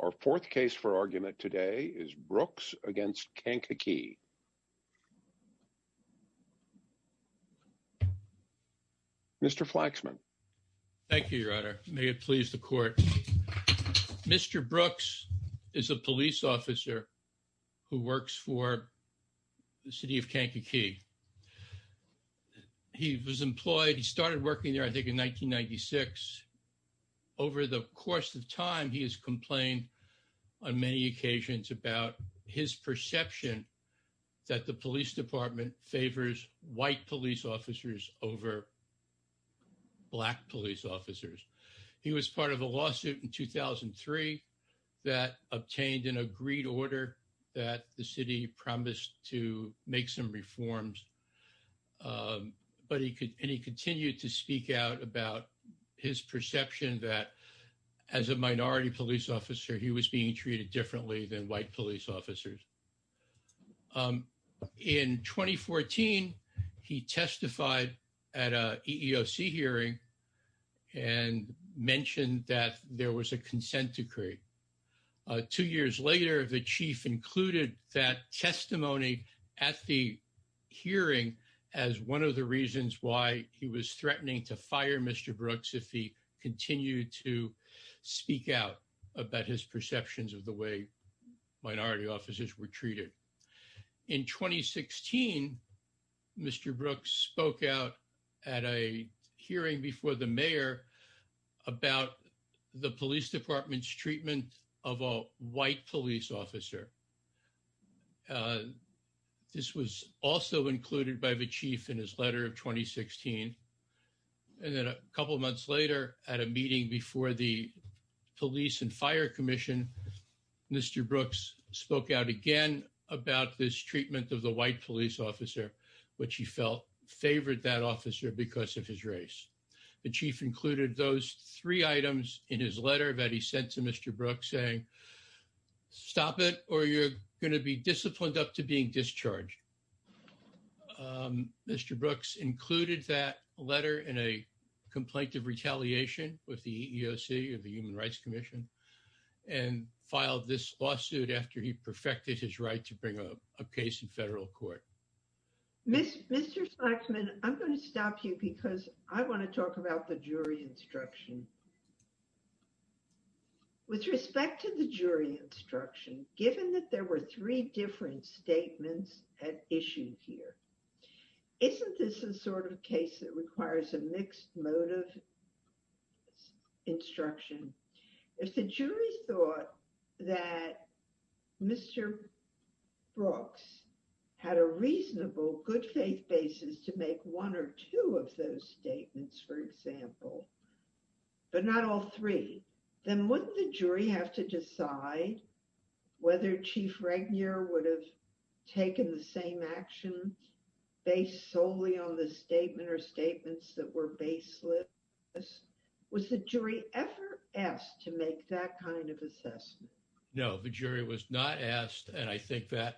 Our fourth case for argument today is Brooks against Kankakee. Mr. Flaxman. Thank you, your honor. May it please the court. Mr. Brooks is a police officer who works for the city of Kankakee. He was employed, he started working there I think in 1996. Over the course of time, he has complained on many occasions about his perception that the police department favors white police officers over black police officers. He was part of a lawsuit in 2003 that obtained an agreed order that the city promised to make some reforms. But he continued to speak out about his perception that as a minority police officer, he was being treated differently than white police officers. In 2014, he testified at a EEOC hearing and mentioned that there was a consent decree. Two years later, the chief included that testimony at the hearing as one of the reasons why he was threatening to fire Mr. Brooks if he continued to speak out about his perceptions of the way minority officers were treated. In 2016, Mr. Brooks spoke out at a hearing before the mayor about the police department's treatment of a white police officer. This was also included by the chief in his letter of 2016. And then a couple months later, at a meeting before the police and fire commission, Mr. Brooks spoke out again about this treatment of the white police officer, which he felt favored that officer because of his race. The chief included those three items in his letter that he sent to Mr. Brooks saying, stop it or you're going to be disciplined up to being discharged. Mr. Brooks included that letter in a complaint of retaliation with the EEOC or the Human Rights Commission and filed this lawsuit after he perfected his right to bring up a case in federal court. Mr. Spaksman, I'm going to stop you because I want to talk about the jury instruction. With respect to the jury instruction, given that there were three different statements at issue here, isn't this a sort of case that requires a mixed motive instruction? If the jury thought that Mr. Brooks had a reasonable good faith basis to make one or two of those statements, for example, but not all three, then wouldn't the jury have to decide whether Chief Regnier would have taken the same action based solely on the statement or statements that were baseless? Was the jury ever asked to make that kind of assessment? No, the jury was not asked. And I think that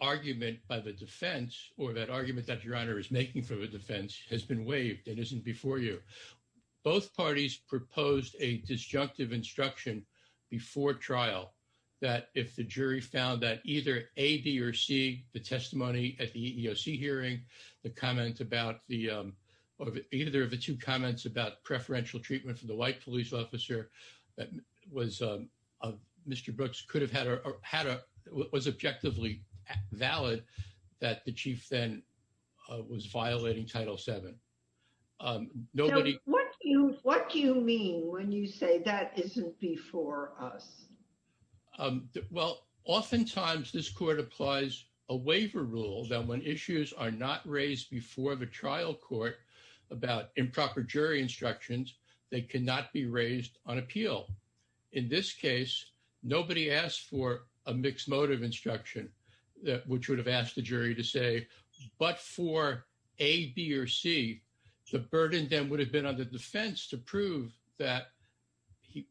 argument by the defense or that argument that the defense has been waived and isn't before you. Both parties proposed a disjunctive instruction before trial that if the jury found that either A, B, or C, the testimony at the EEOC hearing, the comment about the, either of the two comments about preferential treatment for the white police officer that Mr. Brooks could have had or was objectively valid, that the chief then was violating Title VII. What do you mean when you say that isn't before us? Well, oftentimes this court applies a waiver rule that when issues are not raised before the trial court about improper jury instructions, they cannot be raised on appeal. In this case, nobody asked for a mixed motive instruction, which would have asked the jury to say, but for A, B, or C, the burden then would have been on the defense to prove that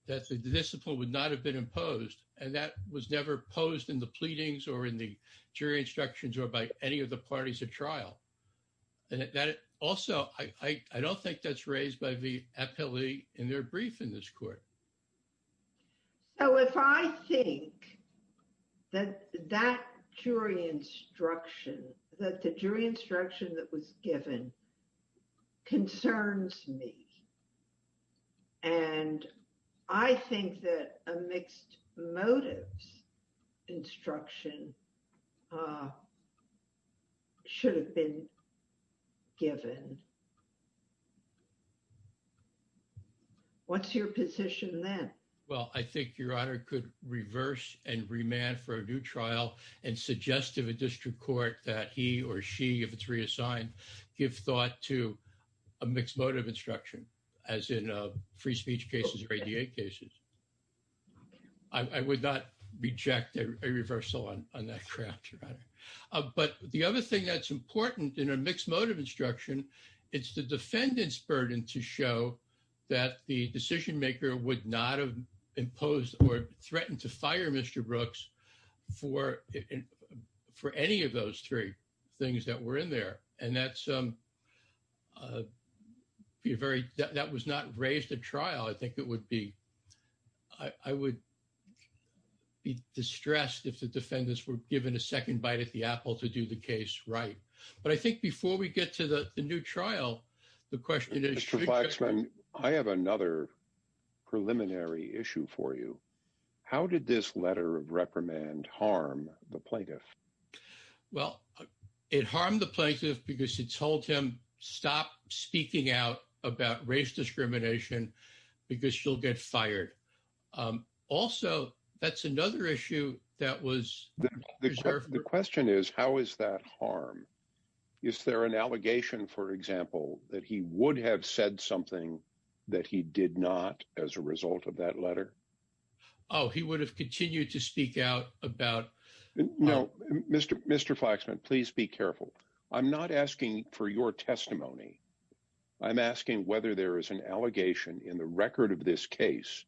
the discipline would not have been imposed. And that was never posed in the pleadings or in the jury instructions or by any of the judges. Also, I don't think that's raised by the appellee in their brief in this court. So if I think that that jury instruction, that the jury instruction that was given concerns me, and I think that a mixed motives instruction should have been given, what's your position then? Well, I think your honor could reverse and remand for a new trial and suggest to the district court that he or she, if it's reassigned, give thought to a mixed motive instruction as in free speech cases or ADA cases. I would not reject a reversal on that ground, your honor. But the other thing that's important in a mixed motive instruction, it's the defendant's burden to show that the decision maker would not have imposed or threatened to fire Mr. Brooks for any of those three things that were in there. And that's a very, that was not raised at trial. I think it would be, I would be distressed if the defendants were given a second bite at the apple to do the case right. But I think before we get to the new trial, the question is... Mr. Flaxman, I have another preliminary issue for you. How did this stop speaking out about race discrimination because she'll get fired? Also, that's another issue that was... The question is, how is that harm? Is there an allegation, for example, that he would have said something that he did not as a result of that letter? Oh, he would have continued to speak out about... No, Mr. Flaxman, please be careful. I'm not asking for your testimony. I'm asking whether there is an allegation in the record of this case,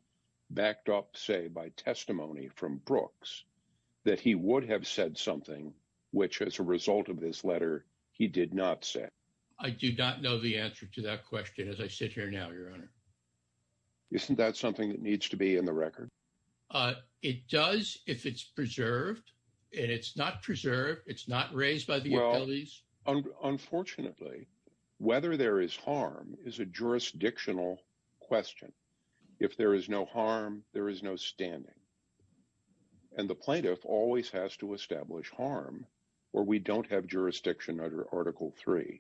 backed up, say, by testimony from Brooks, that he would have said something which as a result of this letter, he did not say. I do not know the answer to that question as I sit here now, Your Honor. Isn't that something that needs to be in the record? It does if it's preserved and it's not preserved, it's not raised by the... Well, unfortunately, whether there is harm is a jurisdictional question. If there is no harm, there is no standing. And the plaintiff always has to establish harm or we don't have jurisdiction under Article 3.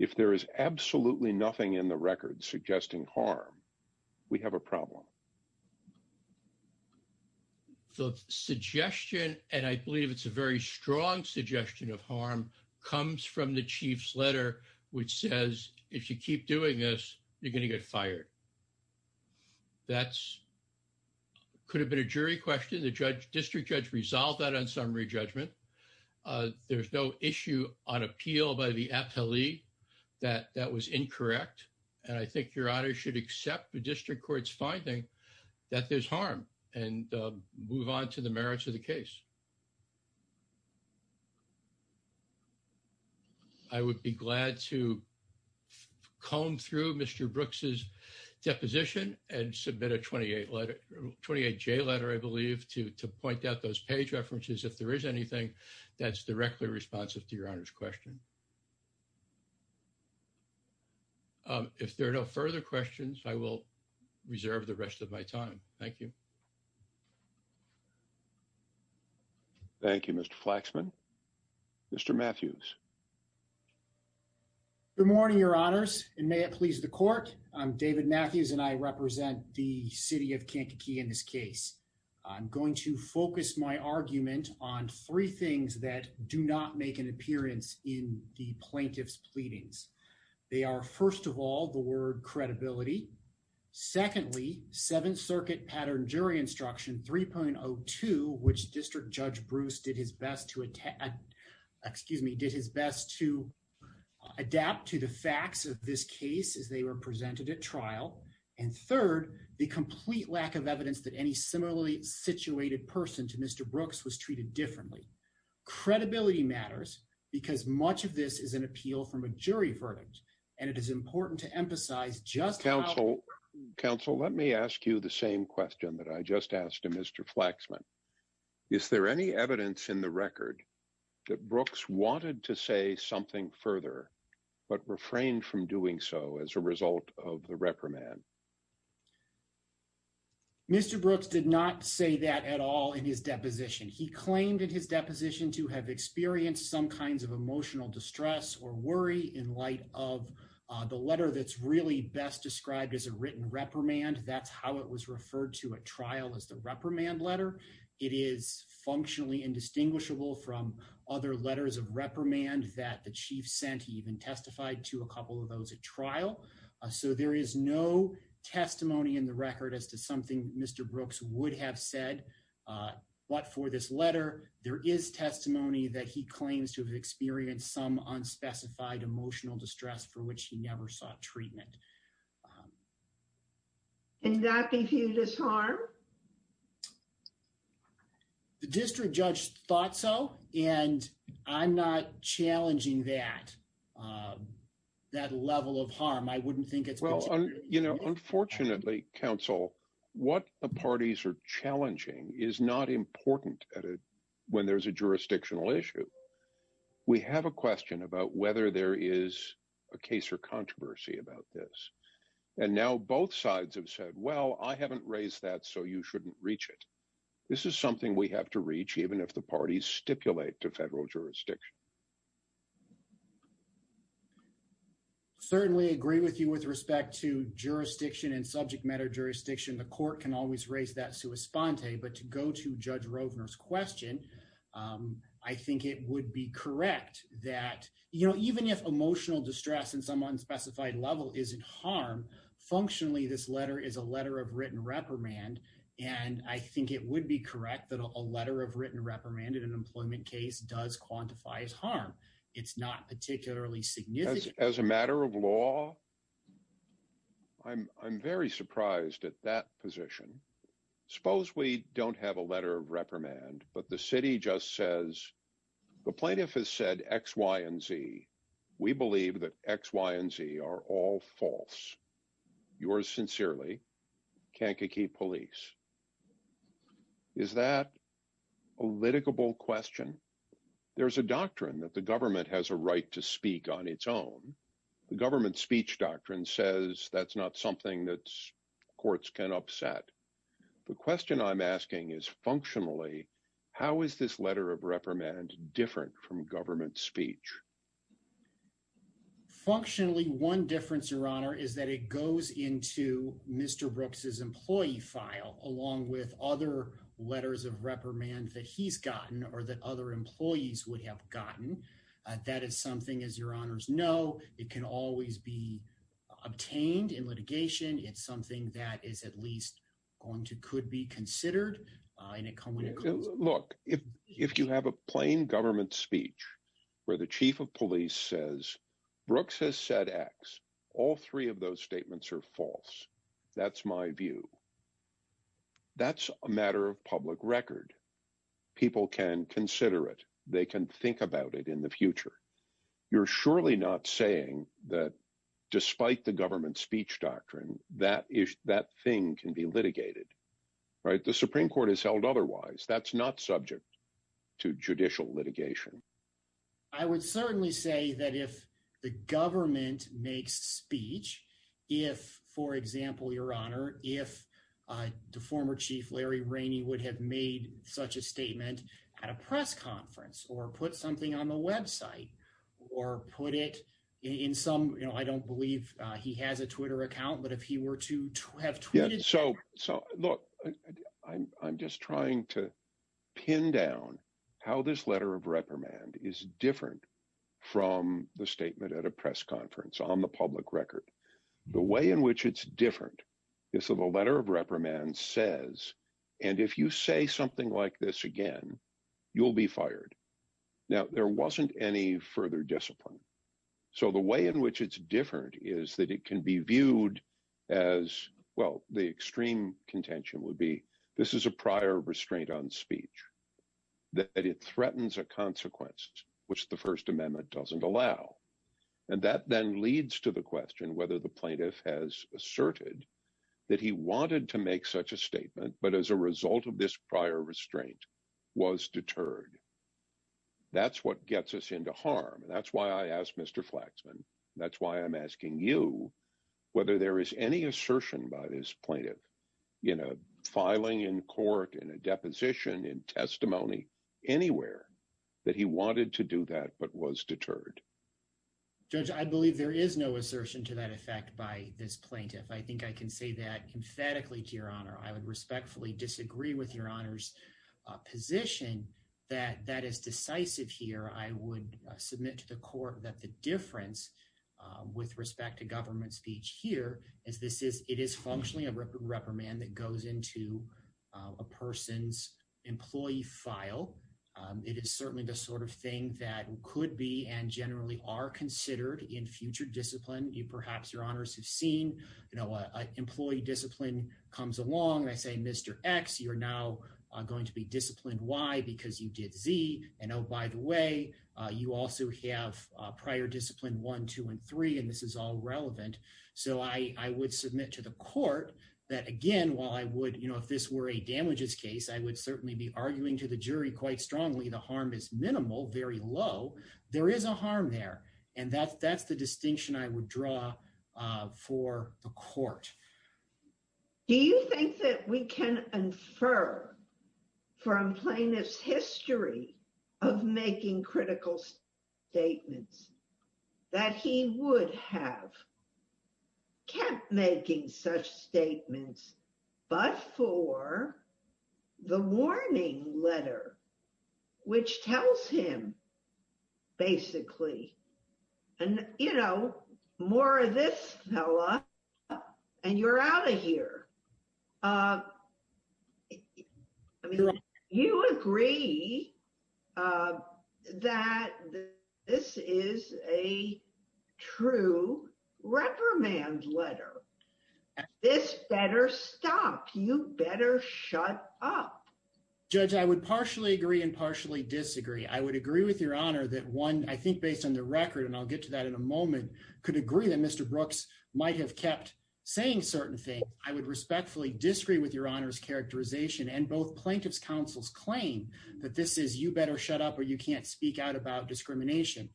If there is absolutely nothing in the record suggesting harm, we have a problem. So the suggestion, and I believe it's a very strong suggestion of harm, comes from the Chief's letter, which says, if you keep doing this, you're going to get fired. That could have been a jury question. The district judge resolved that on summary judgment. There's no issue on appeal by the appellee that that was incorrect. And I think Your Honor should accept the district court's finding that there's harm and move on to the merits of the case. I would be glad to comb through Mr. Brooks's deposition and submit a 28-J letter, I believe, to point out those page references if there is anything that's directly responsive to Your Honor's question. If there are no further questions, I will reserve the rest of my time. Thank you. Thank you, Mr. Flaxman. Mr. Matthews. Good morning, Your Honors, and may it please the court. I'm David Matthews and I represent the city of Kankakee in this case. I'm going to focus my argument on three things that do not make an appearance in the plaintiff's pleadings. They are, first of all, the word credibility. Secondly, Seventh Circuit Pattern Jury Instruction 3.02, which District Judge Bruce did his best to adapt to the facts of this case as they were presented at trial. And third, the complete lack of evidence that any similarly situated person to Mr. Brooks was treated differently. Credibility matters because much of this is an appeal from a jury verdict, and it is important to emphasize just how— Counsel, let me ask you the same question that I just asked to Mr. Flaxman. Is there any evidence in the record that Brooks wanted to say something further but refrained from doing so as a result of the reprimand? Mr. Brooks did not say that at all in his deposition. He claimed in his deposition to have experienced some kinds of emotional distress or worry in light of the letter that's really best described as a written reprimand. That's how it was referred to at trial as the reprimand letter. It is functionally indistinguishable from other letters of reprimand that the chief sent. He even testified to a couple of those at trial. So there is no testimony in the record as to something Mr. Brooks would have said. But for this letter, there is testimony that he claims to have experienced some unspecified emotional distress for which he never sought treatment. Can that be viewed as harm? The district judge thought so, and I'm not challenging that level of harm. I wouldn't think— Unfortunately, Counsel, what the parties are challenging is not important when there's a jurisdictional issue. We have a question about whether there is a case or controversy about this. And now both sides have said, well, I haven't raised that, so you shouldn't reach it. This is something we have to reach, even if the parties stipulate to federal jurisdiction. Certainly agree with you with respect to jurisdiction and subject matter jurisdiction. The court can always raise that sua sponte, but to go to Judge Rovner's question, I think it would be correct that, you know, even if emotional distress in some unspecified level isn't harm, functionally this letter is a letter of written reprimand. And I think it would be correct that a letter of written reprimand in an employment case does quantify as harm. It's not particularly significant. As a matter of law, I'm very surprised at that position. Suppose we don't have a letter of reprimand, but the city just says, the plaintiff has said X, Y, and Z. We believe that X, Y, and Z are all false. Yours sincerely, Kankakee Police. Is that a litigable question? There's a doctrine that the government has a right to speak on its own. The government speech doctrine says that's not something that courts can upset. The question I'm asking is, functionally, how is this letter of reprimand different from government speech? Functionally, one difference, Your Honor, is that it goes into Mr. Brooks's employee file, along with other letters of reprimand that he's gotten or that other employees would have gotten. That is something, as Your Honors know, it can always be obtained in litigation. It's something that is at least going to could be considered. Look, if you have a plain government speech where the chief of police says, Brooks has said X, all three of those statements are false. That's my view. That's a matter of public record. People can consider it. They can think about it in the future. You're surely not saying that despite the government speech doctrine, that thing can be litigated. The Supreme Court has held otherwise. That's not subject to judicial litigation. I would certainly say that if the government makes speech, if, for example, Your Honor, if the former chief, Larry Rainey, would have made such a statement at a press conference or put something on the website or put it in some, I don't believe he has a Twitter account, but if he were to have tweeted. So, look, I'm just trying to pin down how this letter of reprimand is different from the statement at a press conference on the public record. The way in which it's different is that the letter of reprimand says, and if you say something like this again, you'll be fired. Now, there wasn't any further discipline. So, the way in which it's different is that it can be viewed as, well, the extreme contention would be this is a prior restraint on speech, that it threatens a consequence which the First Amendment doesn't allow. And that then leads to the question whether the plaintiff has asserted that he wanted to make such a statement, but as a result of this prior restraint was deterred. That's what gets us into harm. And that's why I asked Mr. Flaxman. That's why I'm asking you whether there is any assertion by this plaintiff in a filing in court, in a deposition, in testimony, anywhere that he wanted to do that but was deterred. Judge, I believe there is no assertion to that effect by this plaintiff. I think I can say that emphatically to your honor, I would respectfully disagree with your honor's position that that is decisive here. I would submit to the court that the difference with respect to government speech here is this is, it is functionally a reprimand that goes into a person's employee file. It is certainly the sort of thing that could be and generally are considered in future discipline. You perhaps, your honors, have seen, you know, employee discipline comes along. I say, Mr. X, you're now going to be disciplined Y because you did Z. And oh, by the way, you also have prior discipline 1, 2, and 3. And this is all relevant. So I would submit to the court that, again, while I would, you know, if this were a damages case, I would certainly be arguing to the jury quite strongly. The harm is minimal, very low. There is a harm there. And that's the distinction I would draw for the court. Do you think that we can infer from plaintiff's history of making critical statements that he would have kept making such statements but for the warning letter, which tells him basically, you know, more of this fella and you're out of here. I mean, you agree that this is a true reprimand letter. This better stop. You better shut up. Judge, I would partially agree and partially disagree. I would agree with your honor that one, I think based on the record, and I'll get to that in a moment, could agree that Mr. Brooks might have kept saying certain things. I would respectfully disagree with your honor's characterization and both plaintiff's counsel's claim that this is you better shut up or you can't speak out about discrimination.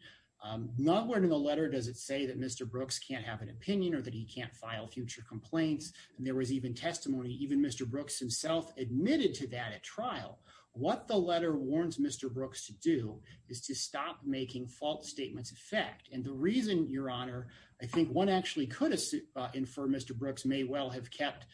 Nowhere in the letter does it say that Mr. Brooks can't have an opinion or that he can't file future complaints. And there was even testimony, even Mr. Brooks himself admitted to that at trial. What the letter warns Mr. Brooks to do is to stop making false statements of fact. And the reason your honor, I think one actually could infer Mr. Brooks may well have kept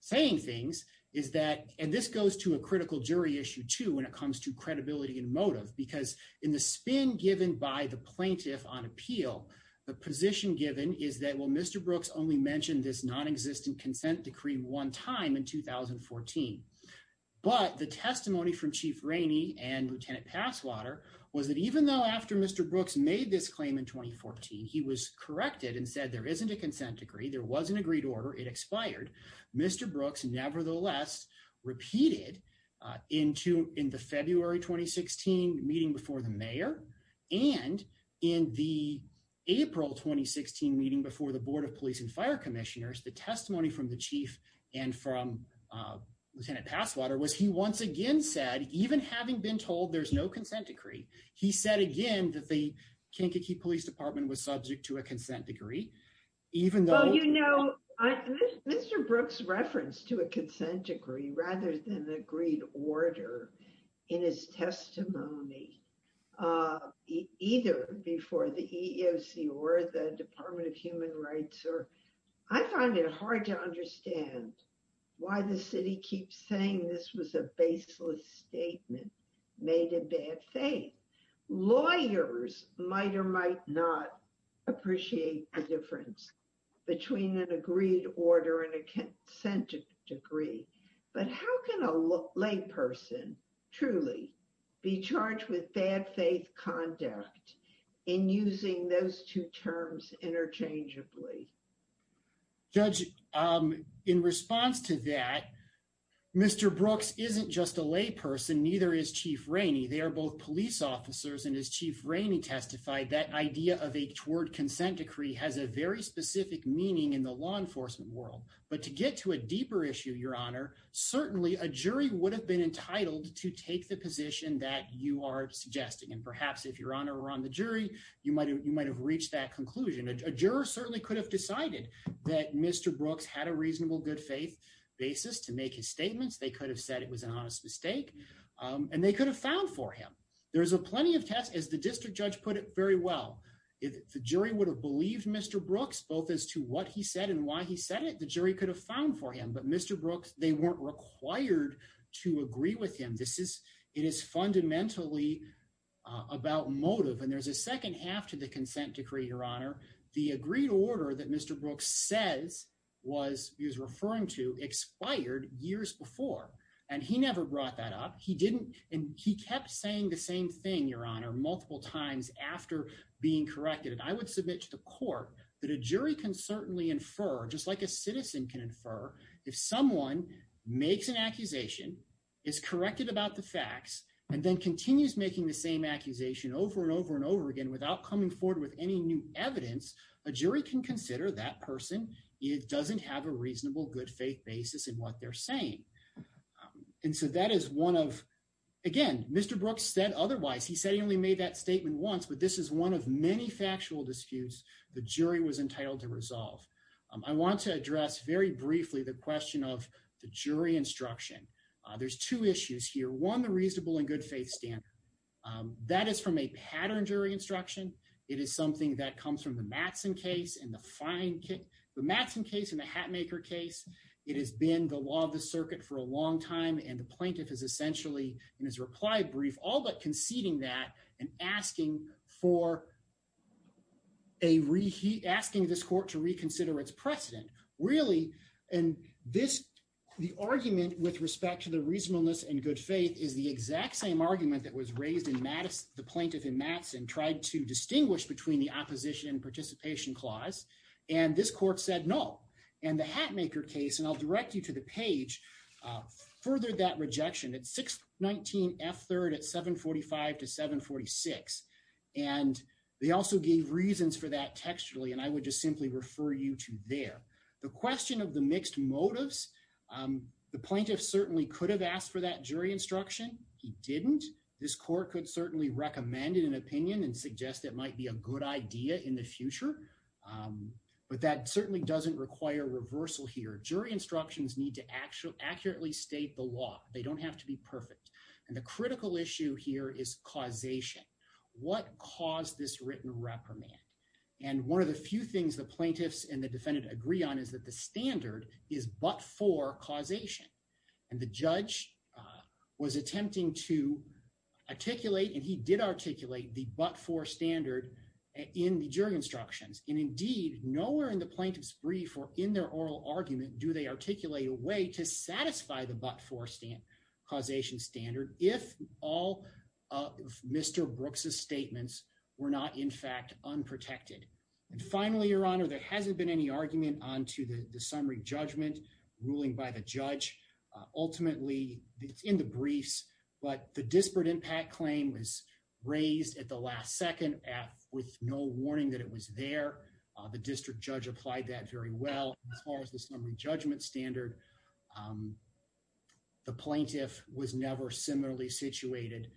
saying things is that, and this goes to a critical jury issue too, when it comes to credibility and motive, because in the spin given by the plaintiff on appeal, the position given is that, well, Mr. Brooks only mentioned this non-existent consent decree one time in 2014. But the testimony from Chief Rainey and Lieutenant Passwater was that even though after Mr. Brooks made this claim in 2014, he was corrected and said there isn't a consent decree, there was an agreed order, it expired. Mr. Brooks nevertheless repeated in the February 2016 meeting before the mayor and in the April 2016 meeting before the board of police and fire commissioners, the Lieutenant Passwater, was he once again said, even having been told there's no consent decree, he said again that the Kankakee Police Department was subject to a consent decree, even though- Well, you know, Mr. Brooks referenced to a consent decree rather than the agreed order in his testimony, either before the EEOC or the Department of Human Rights, or I find it hard to understand why the city keeps saying this was a baseless statement, made in bad faith. Lawyers might or might not appreciate the difference between an agreed order and a consent decree, but how can a lay person truly be charged with bad faith conduct in using those two terms interchangeably? Judge, in response to that, Mr. Brooks isn't just a lay person, neither is Chief Rainey. They are both police officers, and as Chief Rainey testified, that idea of a toward consent decree has a very specific meaning in the law enforcement world, but to get to a deeper issue, Your Honor, certainly a jury would have been entitled to take the jury. You might have reached that conclusion. A juror certainly could have decided that Mr. Brooks had a reasonable good faith basis to make his statements. They could have said it was an honest mistake, and they could have found for him. There's plenty of test- As the district judge put it very well, if the jury would have believed Mr. Brooks, both as to what he said and why he said it, the jury could have found for him, but Mr. Brooks, they weren't required to agree with him. It is fundamentally about motive, and there's a second half to the consent decree, Your Honor. The agreed order that Mr. Brooks says he was referring to expired years before, and he never brought that up. He kept saying the same thing, Your Honor, multiple times after being corrected, and I would submit to the court that a jury can certainly infer, just like a citizen can infer, if someone makes an accusation, is corrected about the facts, and then continues making the same accusation over and over and over again without coming forward with any new evidence, a jury can consider that person doesn't have a reasonable good faith basis in what they're saying, and so that is one of- Again, Mr. Brooks said otherwise. He said he only made that statement once, but this is one of many factual disputes the jury was entitled to to address very briefly the question of the jury instruction. There's two issues here. One, the reasonable and good faith standard. That is from a pattern jury instruction. It is something that comes from the Mattson case and the Hatmaker case. It has been the law of the circuit for a long time, and the plaintiff is essentially, in his reply brief, all but conceding that and asking for a reheat, asking this court to reconsider its precedent. Really, the argument with respect to the reasonableness and good faith is the exact same argument that was raised in the plaintiff in Mattson, tried to distinguish between the opposition and participation clause, and this court said no, and the Hatmaker case, and I'll direct you to the page, furthered that rejection at 619 F3rd at 745 to 746, and they also gave reasons for that textually, and I would just simply refer you to there. The question of the mixed motives, the plaintiff certainly could have asked for that jury instruction. He didn't. This court could certainly recommend it in an opinion and suggest it might be a good idea in the future, but that accurately state the law. They don't have to be perfect, and the critical issue here is causation. What caused this written reprimand, and one of the few things the plaintiffs and the defendant agree on is that the standard is but-for causation, and the judge was attempting to articulate, and he did articulate the but-for standard in the jury instructions, and indeed, nowhere in the plaintiff's brief or in their oral argument do they articulate a way to satisfy the but-for causation standard if all of Mr. Brooks's statements were not, in fact, unprotected, and finally, Your Honor, there hasn't been any argument on to the summary judgment ruling by the judge. Ultimately, it's in the briefs, but the disparate impact claim was raised at the last second with no warning that it was there. The district judge applied that very well. As far as the summary judgment standard, the plaintiff was never similarly situated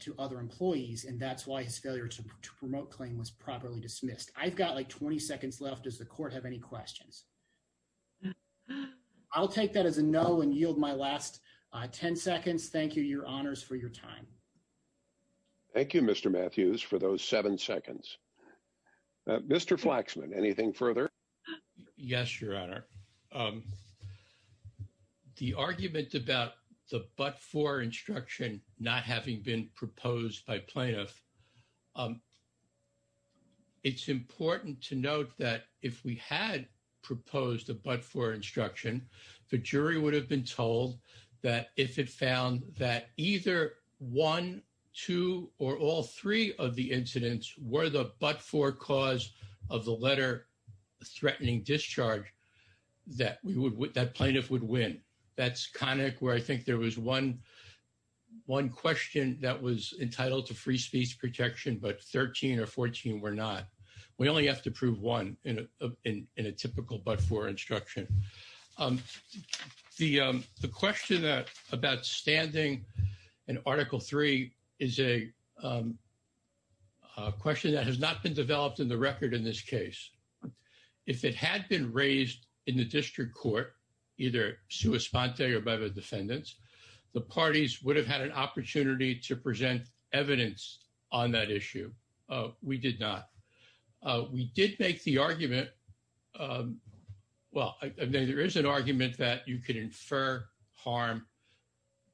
to other employees, and that's why his failure to promote claim was properly dismissed. I've got, like, 20 seconds left. Does the court have any questions? I'll take that as a no and yield my last 10 seconds. Thank you, Your Honors, for your time. Thank you, Mr. Matthews, for those seven seconds. Mr. Flaxman, anything further? Yes, Your Honor. The argument about the but-for instruction not having been proposed by plaintiff, it's important to note that if we had proposed a but-for instruction, the jury would have been told that if it found that either one, two, or all three of the incidents were the but-for cause of the letter-threatening discharge, that plaintiff would win. That's conic where I think there was one question that was entitled to free speech protection, but 13 or 14 were not. We only have to prove one in a typical but-for instruction. The question about standing in Article III is a question that has not been developed in the record in this case. If it had been raised in the district court, either sua sponte or by the defendants, the parties would have had an opportunity to present evidence on that issue. We did not. We did make the argument, well, there is an argument that you could infer harm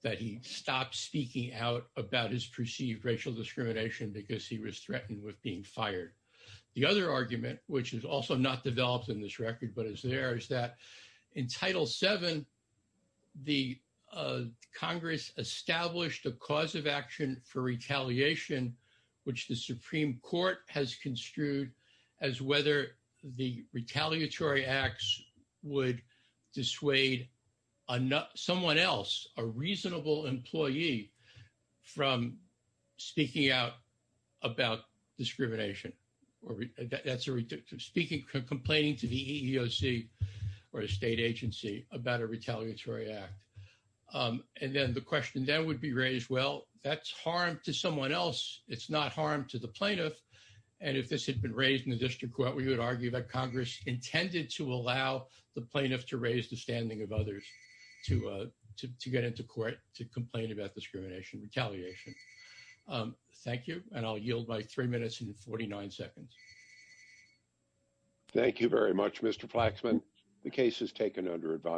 that he stopped speaking out about his perceived racial discrimination because he was threatened with being fired. The other argument, which is also not developed in this record but is there, is that in Title VII, the Congress established a cause of action for retaliation, which the Supreme Court has construed as whether the retaliatory acts would dissuade someone else, a reasonable employee, from speaking out about discrimination or complaining to the EEOC or a state agency about a retaliatory act. And then the question that would be raised, well, that's harm to someone else. It's not harm to the plaintiff. And if this had been raised in the district court, we would argue that Congress intended to allow the plaintiff to raise the standing of others to get into court to complain about discrimination, retaliation. Thank you, and I'll yield my three minutes and 49 seconds. Thank you very much, Mr. Flaxman. The case is taken under advisory.